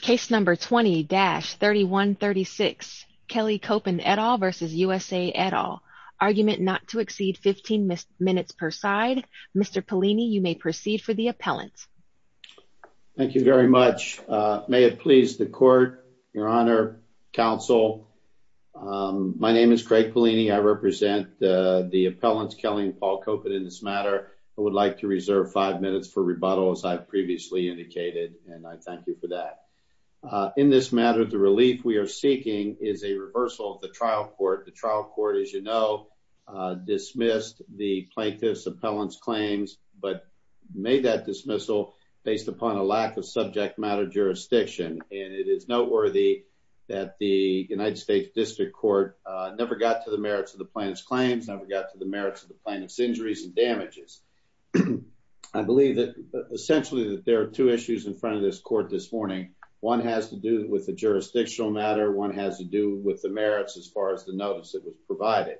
Case number 20-3136. Kelly Copen et al. v. USA et al. Argument not to exceed 15 minutes per side. Mr. Pellini, you may proceed for the appellant. Thank you very much. May it please the court, your honor, counsel. My name is Craig Pellini. I represent the appellants Kelly and Paul Copen in this matter. I would like to reserve five minutes for rebuttal as I've previously indicated and I thank you for that. In this matter, the relief we are seeking is a reversal of the trial court. The trial court, as you know, dismissed the plaintiff's appellant's claims but made that dismissal based upon a lack of subject matter jurisdiction and it is noteworthy that the United States District Court never got to the merits of the plaintiff's claims, never got to the merits of the plaintiff's injuries and damages. I believe that essentially that there are two issues in front of this court this morning. One has to do with the jurisdictional matter. One has to do with the merits as far as the notice that was provided.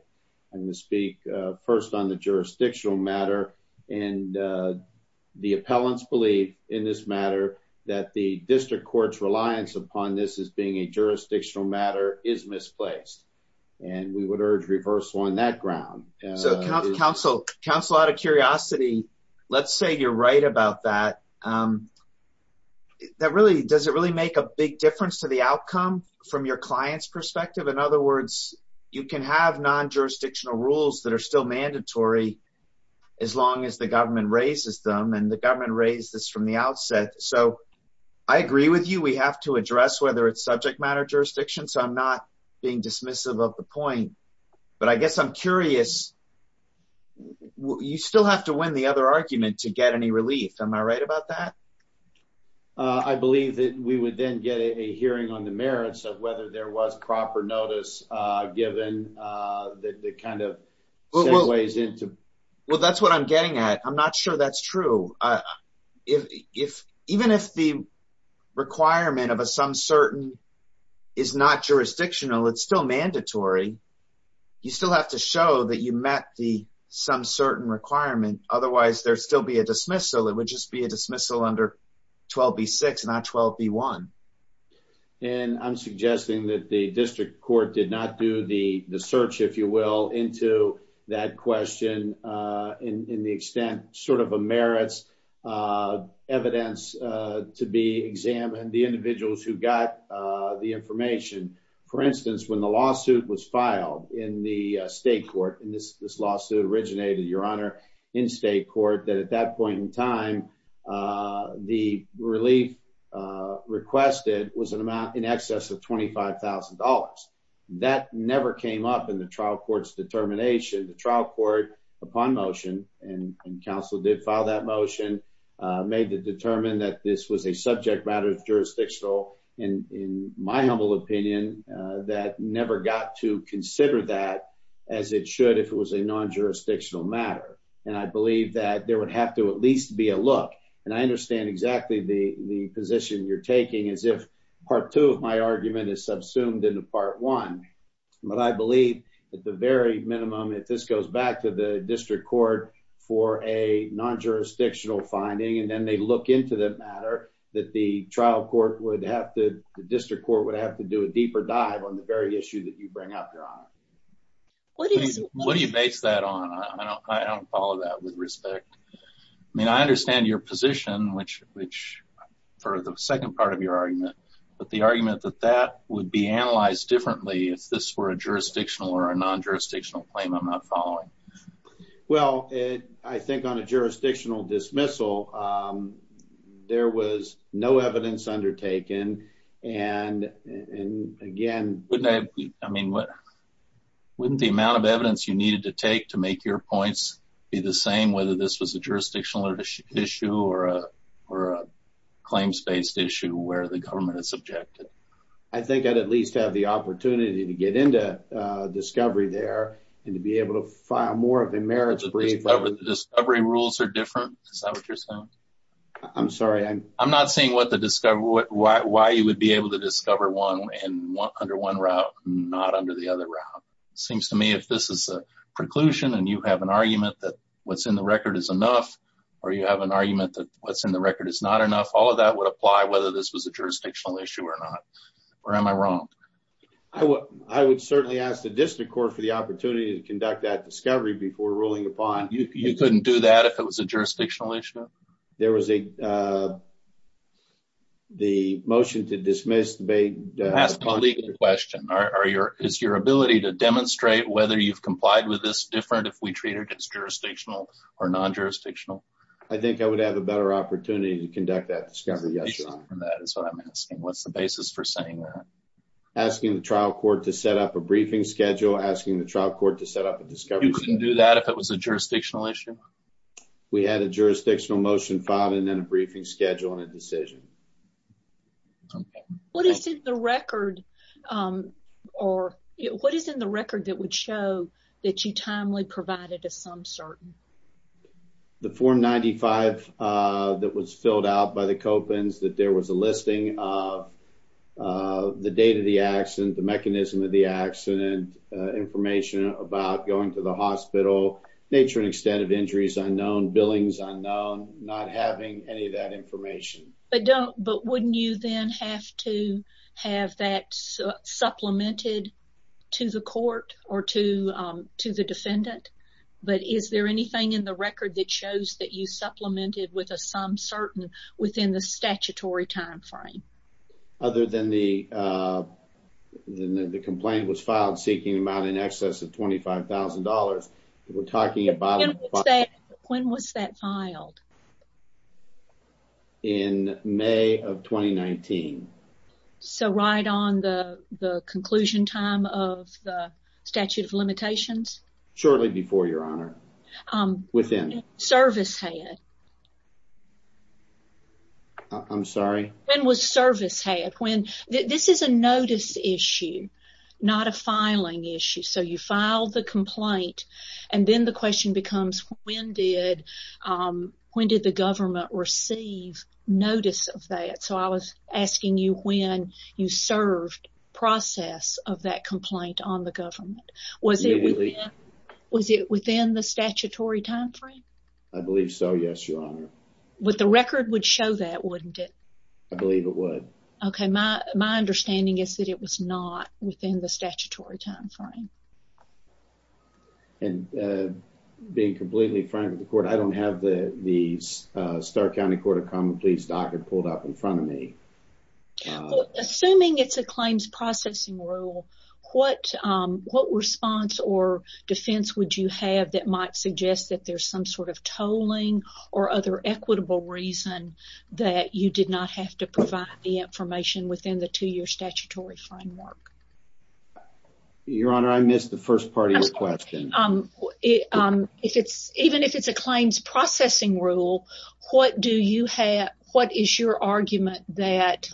I'm going to speak first on the jurisdictional matter and the appellants believe in this matter that the district court's reliance upon this as being a jurisdictional matter is misplaced and we would urge reversal on that ground. So counsel, out of curiosity, let's say you're right about that. Does it really make a big difference to the outcome from your client's perspective? In other words, you can have non-jurisdictional rules that are still mandatory as long as the government raises them and the government raised this from the outset. So I agree with you, we have to address whether it's subject matter jurisdiction. So I'm not being dismissive of the point but I guess I'm curious, you still have to win the other argument to get any relief. Am I right about that? I believe that we would then get a hearing on the merits of whether there was proper notice given that kind of ways into. Well, that's what I'm getting at. I'm not sure that's true. If even if the requirement of a some certain is not jurisdictional, it's still mandatory. You still have to show that you met the some certain requirement. Otherwise, there'd still a dismissal. It would just be a dismissal under 12B6, not 12B1. And I'm suggesting that the district court did not do the search, if you will, into that question in the extent sort of a merits evidence to be examined, the individuals who got the information. For instance, when the lawsuit was filed in the state court, and this lawsuit originated, Your Honor, in state court, that at that point in time, the relief requested was an amount in excess of $25,000. That never came up in the trial court's determination. The trial court, upon motion, and counsel did file that motion, made the determined that this was a subject matter jurisdictional, in my humble opinion, that never got to consider that as it should if it was a non-jurisdictional matter. And I believe that there would have to at least be a look. And I understand exactly the position you're taking as if part two of my argument is subsumed into part one. But I believe at the very minimum, if this goes back to the district court for a non-jurisdictional finding, and then they look into that matter, that the trial court would have to, the district court would have to do a deeper dive on the very issue that you bring up, Your Honor. What do you base that on? I don't follow that with respect. I mean, I understand your position, which for the second part of your argument, but the argument that that would be analyzed differently if this were a jurisdictional or a non-jurisdictional claim I'm not following. Well, I think on a jurisdictional dismissal, there was no evidence undertaken. And again, wouldn't the amount of evidence you needed to take to make your points be the same whether this was a jurisdictional issue or a claims-based issue where the government is subjected? I think I'd at least have the opportunity to get into discovery there and to be able to file more of a merits brief. The discovery rules are different? Is that what you're saying? I'm sorry. I'm not seeing why you would be able to discover one under one route, not under the other route. It seems to me if this is a preclusion and you have an argument that what's in the record is enough, or you have an argument that what's in the record is not enough, all of that would apply whether this was a jurisdictional issue or not. Or am I wrong? I would certainly ask the district court for the opportunity to conduct that discovery before ruling upon it. You couldn't do that if it was a jurisdictional issue? There was a motion to dismiss. I'm asking a legal question. Is your ability to demonstrate whether you've complied with this different if we treat it as jurisdictional or non-jurisdictional? I think I would have a better opportunity to conduct that discovery. That is what I'm asking. What's the basis for saying that? Asking the trial court to set up a briefing schedule, asking the trial court to do that if it was a jurisdictional issue? We had a jurisdictional motion filed and then a briefing schedule and a decision. What is in the record that would show that you timely provided a sum certain? The form 95 that was filled out by the Kopins that there was a listing of the date of the accident, the mechanism of the accident, information about going to the hospital, nature and extent of injuries unknown, billings unknown, not having any of that information. But wouldn't you then have to have that supplemented to the court or to the defendant? But is there anything in the record that shows that you supplemented with a sum certain within the statutory time frame? Other than the complaint was filed seeking an excess of $25,000. When was that filed? In May of 2019. So right on the conclusion time of the accident. I'm sorry? When was service had? This is a notice issue, not a filing issue. So you file the complaint and then the question becomes when did the government receive notice of that? So I was asking you when you served process of that complaint on the government. Was it within the statutory time frame? I believe so. Yes, Your Honor. With the record would show that wouldn't it? I believe it would. Okay. My understanding is that it was not within the statutory time frame. And being completely frank with the court, I don't have the Stark County Court of Common Pleas docket pulled up in front of me. Assuming it's a claims processing rule, what response or defense would you have that might suggest that there's some sort of tolling or other equitable reason that you did not have to provide the information within the two-year statutory framework? Your Honor, I missed the first part of your question. Even if it's a claims processing rule, what is your argument that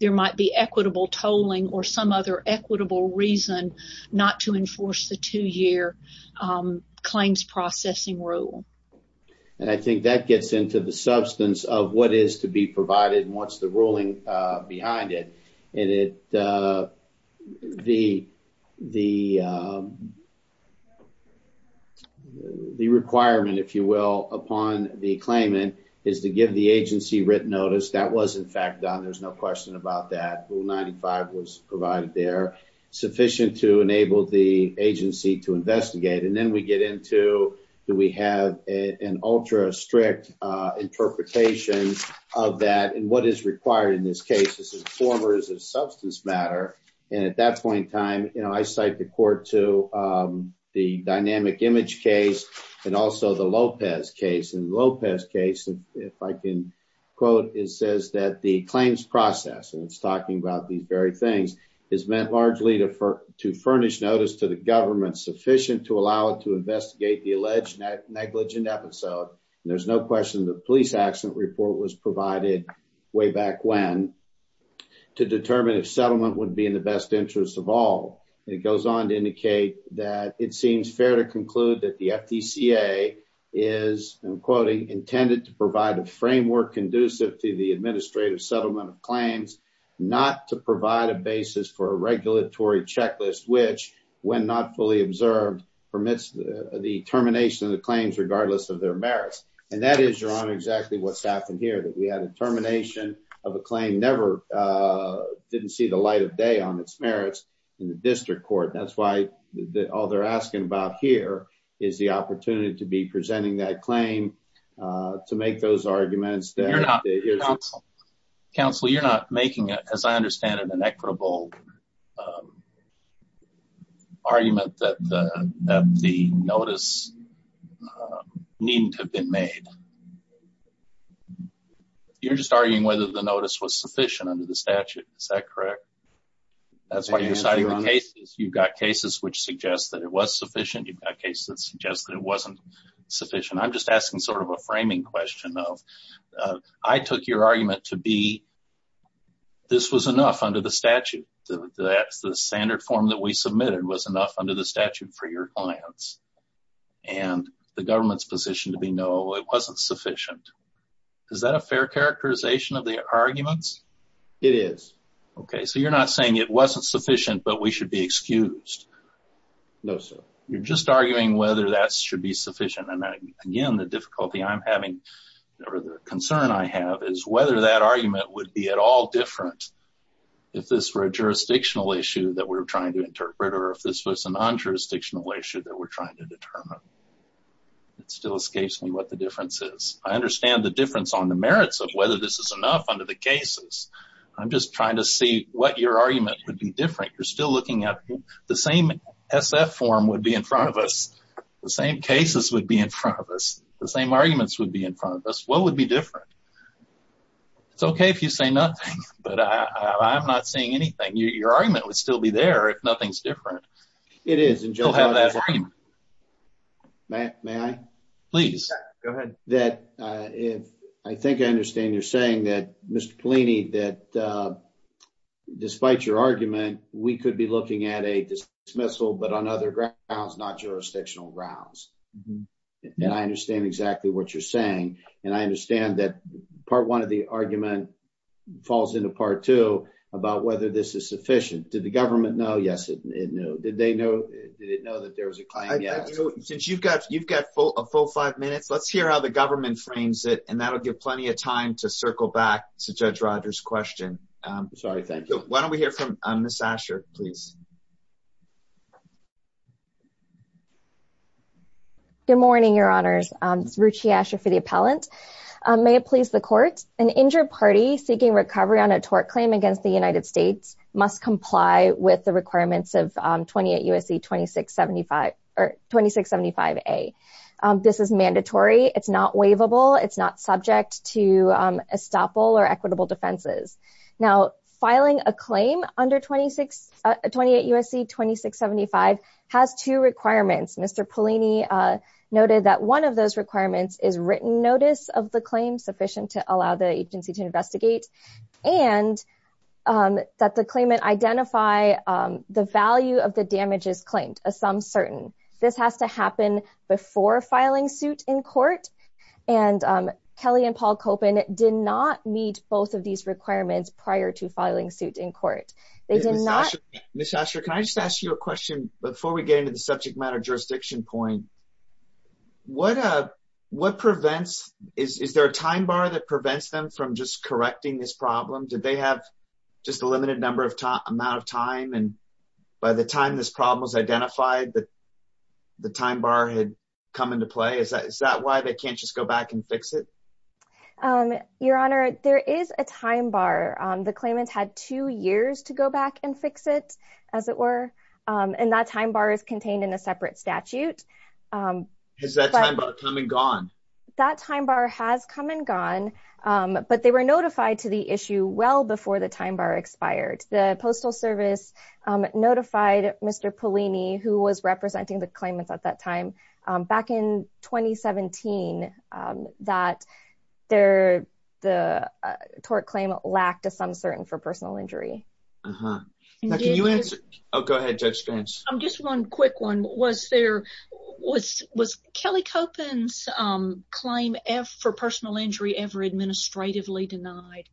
there might be equitable tolling or some other equitable reason not to enforce the two-year claims processing rule? And I think that gets into the substance of what is to be provided and what's the ruling behind it. And the requirement, if you will, upon the claimant is to give the agency written notice. That was, in fact, done. There's no question about that. Rule 95 was provided there, sufficient to enable the agency to investigate. And then we get into, do we have an ultra-strict interpretation of that and what is required in this case? Is it form or is it a substance matter? And at that point in time, I cite the court to the dynamic image case and also the Lopez case. In the Lopez case, if I can quote, it says that the claims process, and it's talking about these very things, is meant largely to furnish notice to the government sufficient to allow it to investigate the alleged negligent episode. There's no question the police accident report was provided way back when to determine if settlement would be in the best interest of all. It goes on to indicate that it seems fair to conclude that the FTCA is, I'm quoting, intended to provide a framework conducive to the administrative settlement of claims, not to provide a basis for a regulatory checklist, which when not fully observed, permits the termination of the claims regardless of their merits. And that is, Your Honor, exactly what's happened here, that we had a termination of a claim, never didn't see the merits in the district court. That's why all they're asking about here is the opportunity to be presenting that claim, to make those arguments. You're not, counsel, you're not making, as I understand it, an equitable argument that the notice needn't have been made. You're just arguing whether the notice was sufficient under the statute. Is that correct? That's why you're citing the cases. You've got cases which suggest that it was sufficient, you've got cases that suggest that it wasn't sufficient. I'm just asking sort of a framing question of, I took your argument to be, this was enough under the statute. That's the standard form that we submitted was enough under the statute for your clients. And the government's position to be, no, it wasn't sufficient. Is that a fair characterization of the arguments? It is. Okay. So you're not saying it wasn't sufficient, but we should be excused. No, sir. You're just arguing whether that should be sufficient. And again, the difficulty I'm having or the concern I have is whether that argument would be at all different if this were a jurisdictional issue that we're trying to interpret, or if this was a non-jurisdictional issue that we're trying to determine. It still escapes me what the difference is. I understand the difference on the merits of whether this is enough under the cases. I'm just trying to see what your argument would be different. You're still looking at the same SF form would be in front of us. The same cases would be in front of us. The same arguments would be in front of us. What would be different? It's okay if you say nothing, but I'm not saying anything. Your argument would still be there if nothing's different. It is. And Joe has that argument. May I? Please, go ahead. I think I understand you're saying that, Mr. Polini, that despite your argument, we could be looking at a dismissal, but on other grounds, not jurisdictional grounds. And I understand exactly what you're saying. And I understand that part one of the argument falls into part two about whether this is sufficient. Did the government know? Yes, did they know? Did it know that there was a claim? Yes. Since you've got a full five minutes, let's hear how the government frames it. And that'll give plenty of time to circle back to Judge Rogers' question. Sorry. Thank you. Why don't we hear from Ms. Asher, please? Good morning, your honors. It's Ruchi Asher for the appellant. May it please the court, an injured party seeking recovery on a tort claim against the United States must comply with the requirements of 28 U.S.C. 2675 A. This is mandatory. It's not waivable. It's not subject to estoppel or equitable defenses. Now, filing a claim under 28 U.S.C. 2675 has two requirements. Mr. Polini noted that one of those requirements is written notice of the claim sufficient to allow the agency to investigate and that the claimant identify the value of the damages claimed, a sum certain. This has to happen before filing suit in court. And Kelly and Paul Koppen did not meet both of these requirements prior to filing suit in court. They did not. Ms. Asher, can I just ask you a question before we get into the subject matter jurisdiction point? What what prevents is there a time bar that prevents them from just correcting this problem? Did they have just a limited number of amount of time? And by the time this problem was identified, the time bar had come into play. Is that why they can't just go back and fix it? Your honor, there is a time bar. The claimant had two years to go back and fix it, as it were. And that time bar is contained in a separate statute. Has that time bar come and gone? That time bar has come and gone, but they were notified to the issue well before the time bar expired. The Postal Service notified Mr. Polini, who was representing the claimants at that time back in 2017, that the tort claim lacked a sum certain for personal injury. Uh-huh. Now, can you answer? Oh, go ahead, Judge Spence. I'm just one quick one. Was there was was Kelly Copen's claim F for personal injury ever administratively denied?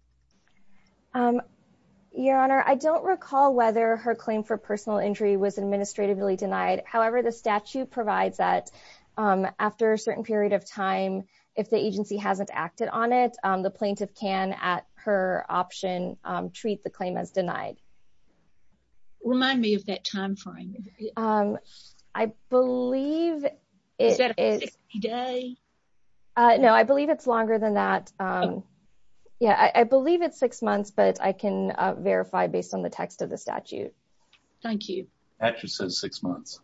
Your honor, I don't recall whether her claim for personal injury was administratively denied. However, the statute provides that after a certain period of time, if the agency hasn't acted on it, the plaintiff can, at her option, treat the claim as denied. Remind me of that time frame. I believe it is. Is that a 60 day? No, I believe it's longer than that. Yeah, I believe it's six months, but I can verify based on the text of the statute. Thank you. That just says six months.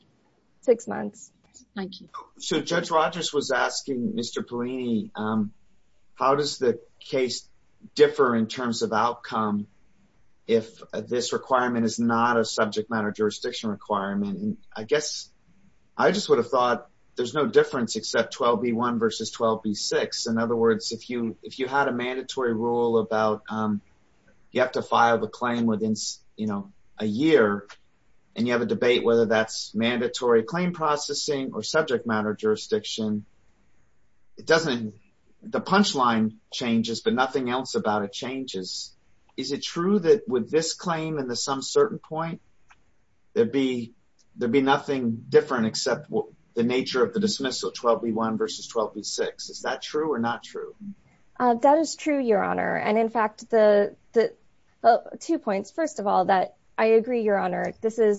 Six months. Thank you. So Judge Rogers was asking, Mr. Polini, how does the case differ in terms of outcome if this requirement is not a subject matter jurisdiction requirement? I guess I just would have thought there's no difference except 12b1 versus 12b6. In other words, if you had a mandatory rule about you have to file the claim within a year and you have a debate whether that's mandatory claim processing or subject matter jurisdiction, the punchline changes, but nothing else about it changes. Is it true that with this claim and the some certain point, there'd be nothing different except the nature of the dismissal 12b1 versus 12b6? Is that true or not true? That is true, your honor. In fact, two points. First of all, I agree, your honor,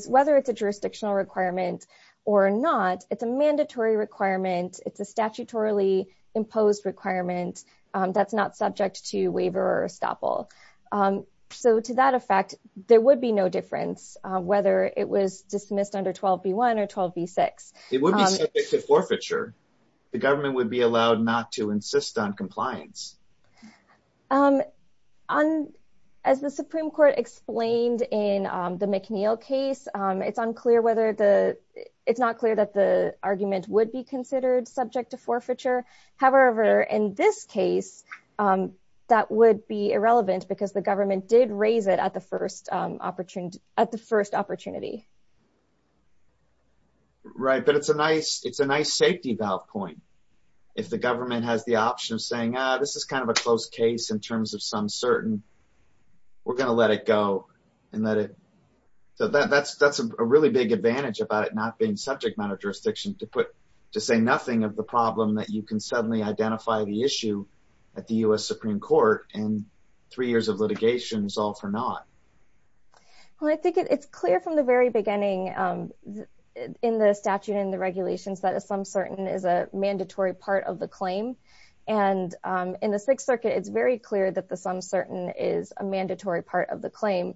whether it's a jurisdictional requirement or not, it's a mandatory requirement. It's a statutorily imposed requirement that's not subject to waiver or estoppel. So to that effect, there would be no difference whether it was dismissed under 12b1 or 12b6. It would be subject to forfeiture. The government would be allowed not to insist on compliance. On, as the Supreme Court explained in the McNeil case, it's unclear whether the, it's not clear that the argument would be considered subject to forfeiture. However, in this case, that would be irrelevant because the government did raise it at the first opportunity. Right, but it's a nice safety valve point. If the government has the option of saying, this is kind of a close case in terms of some certain, we're going to let it go and let it, so that's a really big advantage about it not being subject matter jurisdiction to put, to say nothing of the problem that you can suddenly identify the issue at the U.S. Supreme Court and three years of litigation is all for naught. Well, I think it's clear from the very beginning in the statute and the regulations that a some certain is a mandatory part of the claim. And in the Sixth Circuit, it's very clear that the some certain is a mandatory part of the claim.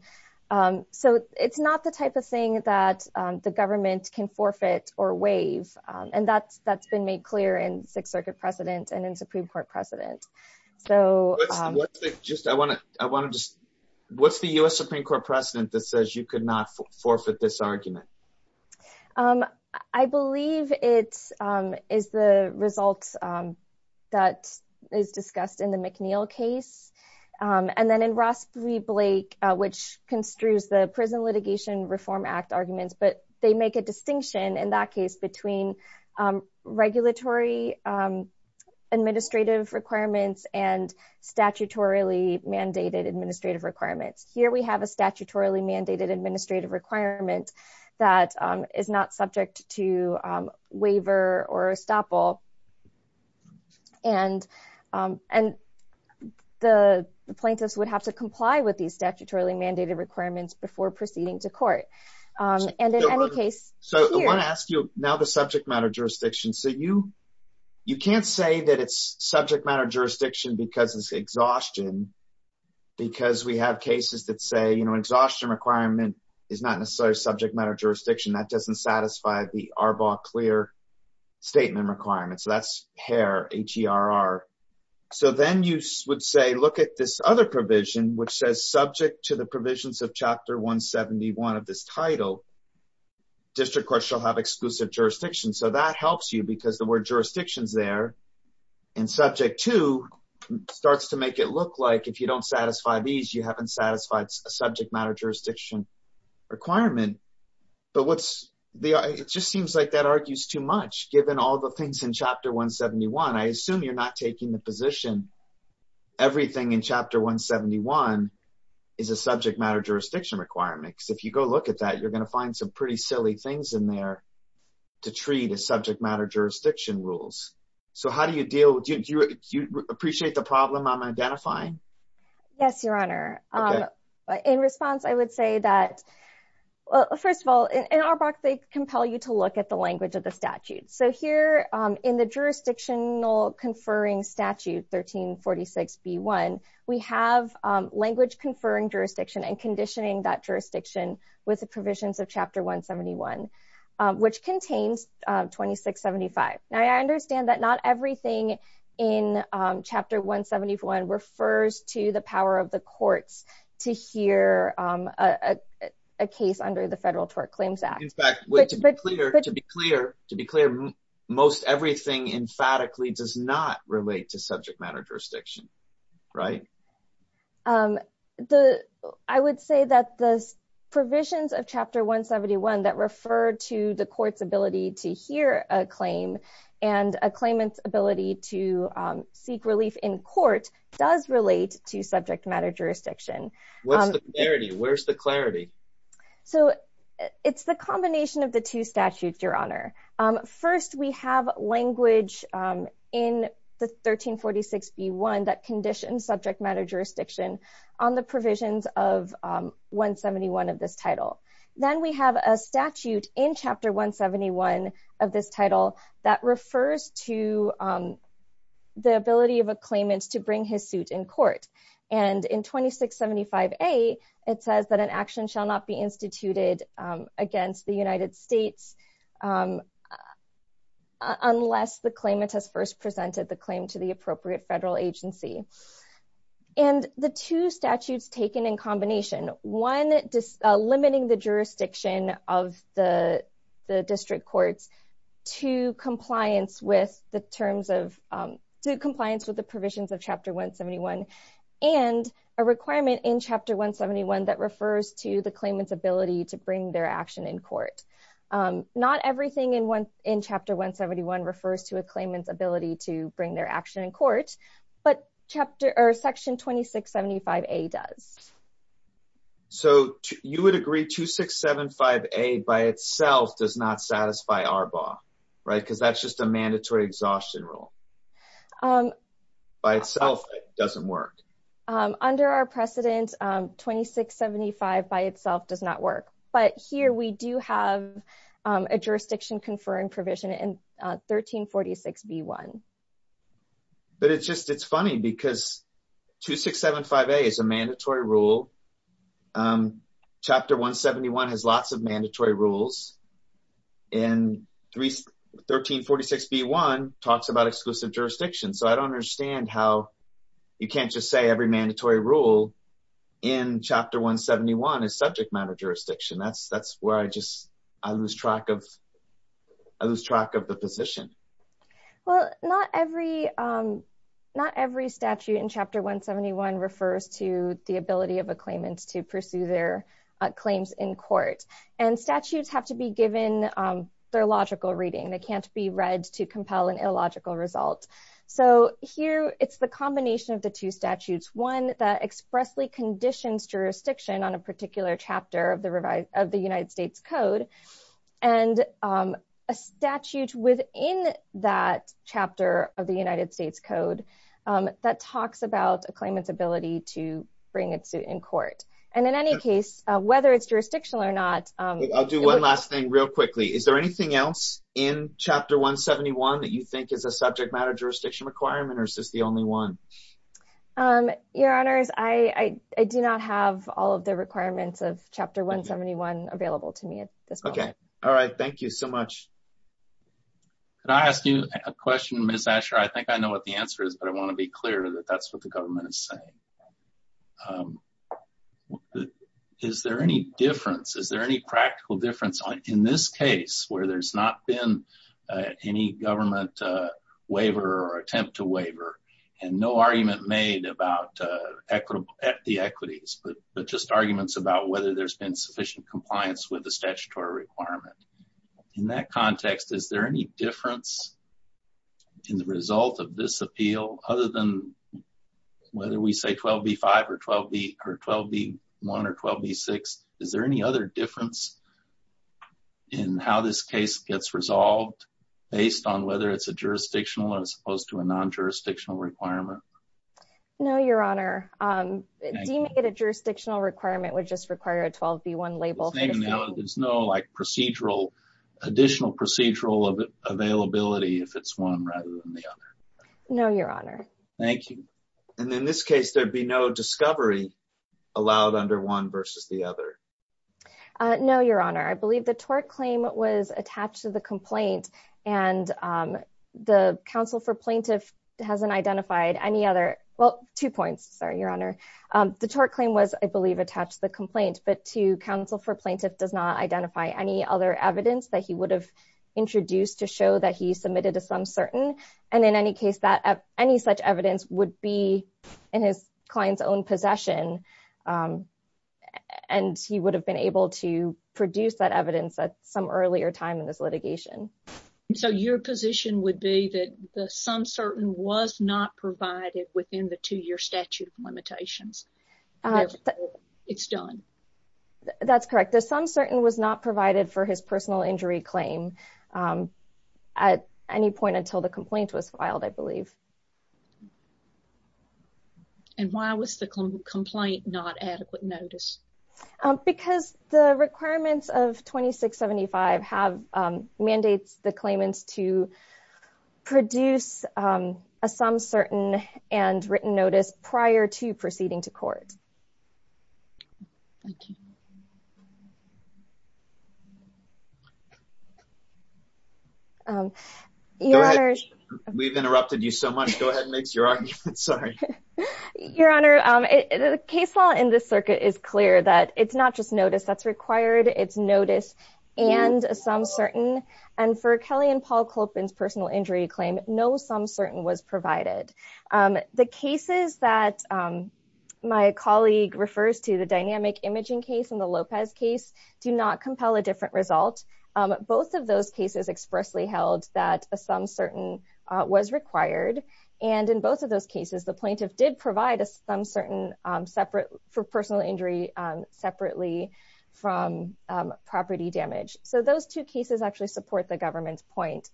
So it's not the type of thing that the government can forfeit or waive. And that's been made clear in Sixth Circuit precedent and in Supreme Court precedent. What's the U.S. Supreme Court precedent that says you could not forfeit this argument? Um, I believe it is the results that is discussed in the McNeil case. And then in Ross v. Blake, which construes the Prison Litigation Reform Act arguments, but they make a distinction in that case between regulatory administrative requirements and statutorily mandated administrative requirements. Here we have a statutorily mandated administrative requirement that is not subject to waiver or estoppel. And the plaintiffs would have to comply with these statutorily mandated requirements before proceeding to court. And in any case, so I want to ask you now the subject matter jurisdiction. So you can't say that it's subject matter jurisdiction because it's exhaustion. Because we have cases that say, you know, exhaustion requirement is not necessarily subject matter jurisdiction. That doesn't satisfy the Arbaugh-Clear statement requirements. So that's HERR, H-E-R-R. So then you would say, look at this other provision, which says subject to the provisions of Chapter 171 of this title, district courts shall have exclusive jurisdiction. So that helps you because the word jurisdictions there and subject to starts to make it look like if you don't satisfy these, you haven't satisfied a subject matter jurisdiction requirement. But what's the, it just seems like that argues too much. Given all the things in Chapter 171, I assume you're not taking the position. Everything in Chapter 171 is a subject matter jurisdiction requirements. If you go look at that, you're going to find some pretty silly things in there to treat as subject matter jurisdiction rules. So how do you deal with, do you appreciate the problem I'm identifying? Yes, Your Honor. In response, I would say that, well, first of all, in Arbaugh, they compel you to look at the language of the statute. So here in the jurisdictional conferring statute 1346B1, we have language conferring jurisdiction and conditioning that jurisdiction with the provisions of Chapter 171, which contains 2675. Now I understand that not everything in Chapter 171 refers to the power of the courts to hear a case under the Federal Tort Claims Act. In fact, to be clear, most everything emphatically does not relate to subject matter jurisdiction, right? I would say that the provisions of Chapter 171 that refer to the court's ability to hear a claim and a claimant's ability to seek relief in court does relate to subject matter jurisdiction. What's the clarity? Where's the clarity? So it's the combination of the two statutes, Your Honor. First, we have language in the 1346B1 that conditions subject matter jurisdiction on the provisions of 171 of this title. Then we have a statute in Chapter 171 of this title that refers to the ability of a claimant to bring his suit in court. And in 2675A, it says that an action shall not be instituted against the United States unless the claimant has first presented the claim to the appropriate federal agency. And the two statutes taken in combination, one limiting the jurisdiction of the district courts to compliance with the terms of compliance with the provisions of Chapter 171 and a requirement in Chapter 171 that refers to the claimant's ability to bring their action in court. Not everything in Chapter 171 refers to a claimant's ability to bring their action in court, but Section 2675A does. So you would agree 2675A by itself does not satisfy ARBA, right? Because that's just a mandatory exhaustion rule. By itself, it doesn't work. Under our precedent, 2675 by itself does not work. But here we do have a jurisdiction conferring provision in 1346B1. But it's just, it's funny because 2675A is a mandatory rule. Chapter 171 has lots of mandatory rules. And 1346B1 talks about exclusive jurisdiction. So I don't understand how you can't just say every mandatory rule in Chapter 171 is subject matter jurisdiction. That's where I just, I lose track of the position. Well, not every, not every statute in Chapter 171 refers to the ability of a claimant to pursue their claims in court. And statutes have to be given their logical reading. They can't be read to compel an illogical result. So here it's the combination of the two statutes. One that expressly conditions jurisdiction on a particular chapter of the revised, of the United States Code. And a statute within that chapter of the United States Code that talks about a claimant's ability to bring its suit in court. And in any case, whether it's jurisdictional or not. I'll do one last thing real quickly. Is there anything else in Chapter 171 that you think is a subject matter jurisdiction requirement? Or is this the only one? Um, your honors, I do not have all of the requirements of Chapter 171 available to me at this point. Okay. All right. Thank you so much. Can I ask you a question, Ms. Asher? I think I know what the answer is, but I want to be clear that that's what the government is saying. Is there any difference? Is there any practical difference in this case where there's not been any government waiver or attempt to waiver? And no argument made about the equities, but just arguments about whether there's been sufficient compliance with the statutory requirement. In that context, is there any difference in the result of this appeal other than whether we say 12b-5 or 12b-1 or 12b-6? Is there any other difference in how this case gets resolved based on whether it's a jurisdictional as opposed to a non-jurisdictional requirement? No, your honor. Deeming it a jurisdictional requirement would just require a 12b-1 label. There's no like procedural, additional procedural availability if it's one rather than the other. No, your honor. Thank you. And in this case, there'd be no discovery allowed under one versus the other. No, your honor. I believe the tort claim was attached to the complaint and the counsel for plaintiff hasn't identified any other... Well, two points. Sorry, your honor. The tort claim was, I believe, attached to the complaint, but to counsel for plaintiff does not identify any other evidence that he would have introduced to show that he submitted to some certain. And in any case that any such evidence would be in his client's own possession and he would have been able to produce that evidence at some earlier time in this litigation. So your position would be that the some certain was not provided within the two-year statute of limitations. It's done. That's correct. The some certain was not provided for his personal injury claim at any point until the complaint was filed, I believe. And why was the complaint not adequate notice? Because the requirements of 2675 have mandates the claimants to produce a some certain and written notice prior to proceeding to court. Thank you. We've interrupted you so much. Go ahead and make your argument. Sorry. Your honor, the case law in this circuit is clear that it's not just notice that's required. It's notice and a some certain. And for Kelly and Paul Colpin's personal injury claim, no some certain was provided. The cases that my colleague refers to, the dynamic imaging case and the Lopez case do not compel a different result. Both of those cases expressly held that a some certain was required. And in both of those cases, the plaintiff did provide a some certain separate for personal injury separately from property damage. So those two cases actually support the government's point.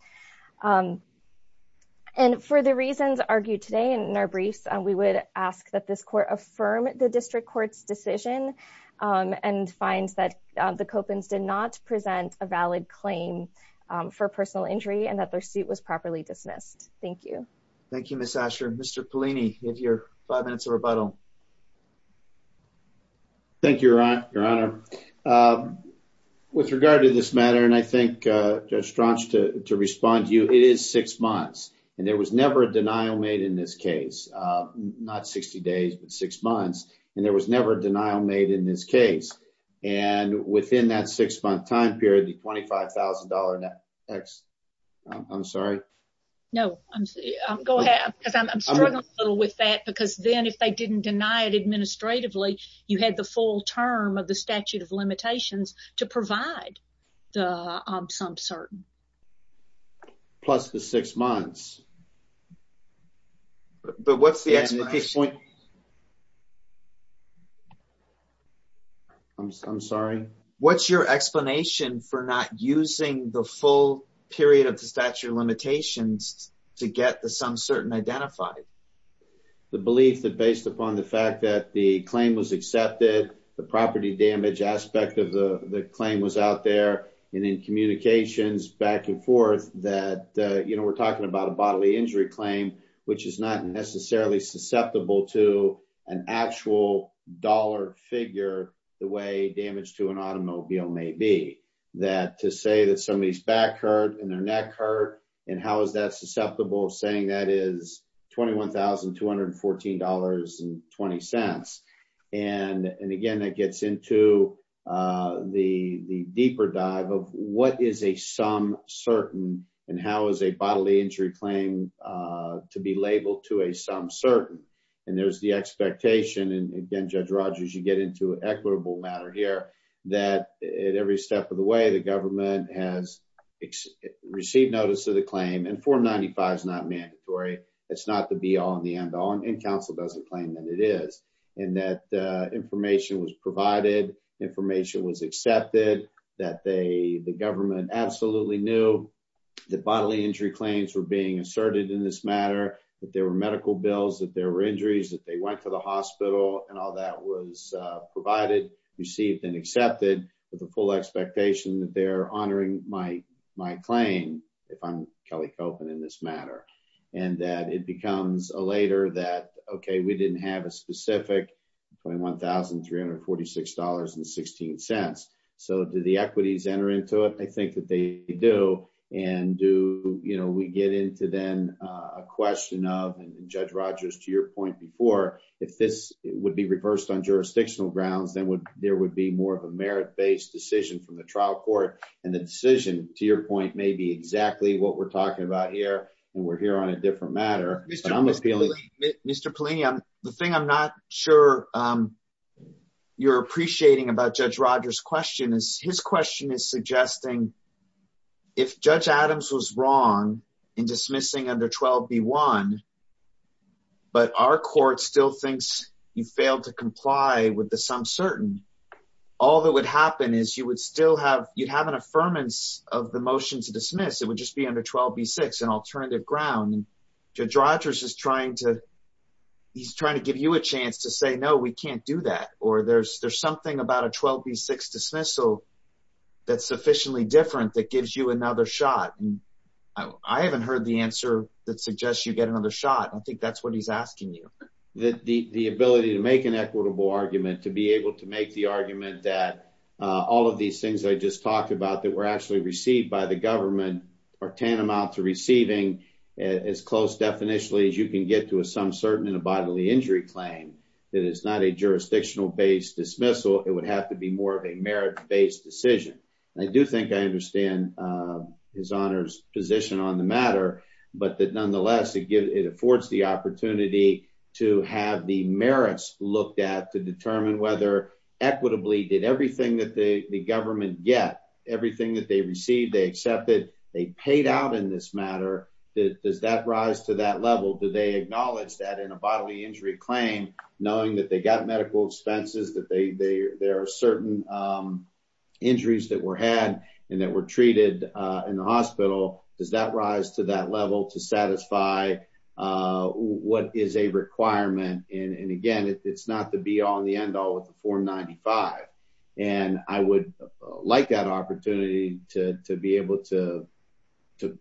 And for the reasons argued today and in our briefs, we would ask that this court affirm the district court's decision and finds that the Copins did not present a valid claim for personal injury and that their suit was properly dismissed. Thank you. Thank you, Mr. Asher. Mr. Polini, give your five minutes of rebuttal. Thank you, your honor. With regard to this matter, and I think just to respond to you, it is six months. And there was never a denial made in this case, not 60 days, but six months. And there was never a denial made in this case. And within that six month time period, the $25,000 X, I'm sorry. No, go ahead. Because I'm struggling a little with that, because then if they didn't deny it administratively, you had the full term of the statute of limitations to provide the some certain. Plus the six months. But what's the point? I'm sorry. What's your explanation for not using the full period of the statute of limitations to get the some certain identified? The belief that based upon the fact that the claim was accepted, the property damage aspect of the claim was out there. And in communications back and forth, that we're talking about a bodily injury claim, which is not necessarily susceptible to an actual dollar figure, the way damage to an automobile may be. That to say that somebody's back hurt and their neck hurt, and how is that susceptible saying that is $21,214 and 20 cents. And again, that gets into the deeper dive of what is a some certain and how is a bodily injury claim to be labeled to a some certain. And there's the expectation. And again, Judge Rogers, you get into an equitable matter here, that at every step of the way, the government has received notice of the claim. And 495 is not mandatory. It's not the be all and the end all. And counsel doesn't claim that it is. And that information was provided, information was accepted, that the government absolutely knew that bodily injury claims were being asserted in this matter, that there were medical bills, that there were injuries, that they went to the hospital and all that was provided, received and accepted with the full expectation that they're honoring my claim, if I'm Kelly Copeland in this matter. And that it becomes a later that, okay, we didn't have a specific $21,346 and 16 cents. So do the equities enter into it? I think that they do. And do, you know, we get into then a question of, and Judge Rogers, to your point before, if this would be reversed on jurisdictional grounds, then there would be more of a merit based decision from the trial court. And the decision, to your point, may be exactly what we're talking about here. And we're here on a different matter. Mr. Pollini, the thing I'm not sure you're appreciating about Judge Rogers' question is, his question is suggesting if Judge Adams was wrong in dismissing under 12b1, but our court still thinks you failed to comply with the some certain, all that would happen is you would still have, you'd have an affirmance of the motion to dismiss. It would just be under 12b6, an alternative ground. Judge Rogers is trying to, he's trying to give you a chance to say, no, we can't do that. Or there's, there's something about a 12b6 dismissal that's sufficiently different that gives you another shot. I haven't heard the answer that suggests you get another shot. I think that's what he's asking you. The ability to make an equitable argument, to be able to make the argument that all of these things I just talked about that were actually received by the government are tantamount to receiving as close definitionally as you can get to a some certain in a bodily injury claim that is not a jurisdictional based dismissal. It would have to be more of a merit based decision. I do think I understand his honor's position on the matter, but that nonetheless it affords the opportunity to have the merits looked at to determine whether equitably did everything that the government get, everything that they received, they accepted, they paid out in this matter, does that rise to that level? Do they acknowledge that in a bodily injury claim, knowing that they got medical expenses, that they, there are certain injuries that were had and that were treated in the hospital. Does that rise to that level to satisfy what is a requirement? And again, it's not the be all and the end all with the form 95. And I would like that opportunity to be able to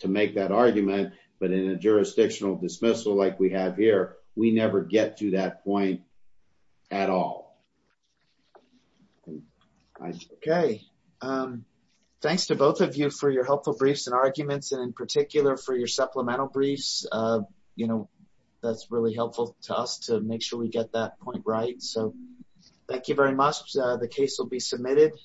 make that argument, but in a jurisdictional dismissal like we have here, we never get to that point at all. Okay. Thanks to both of you for your helpful briefs and arguments and in particular for your supplemental briefs. That's really helpful to us to make sure we get that point right. So thank you very much. The case will be submitted.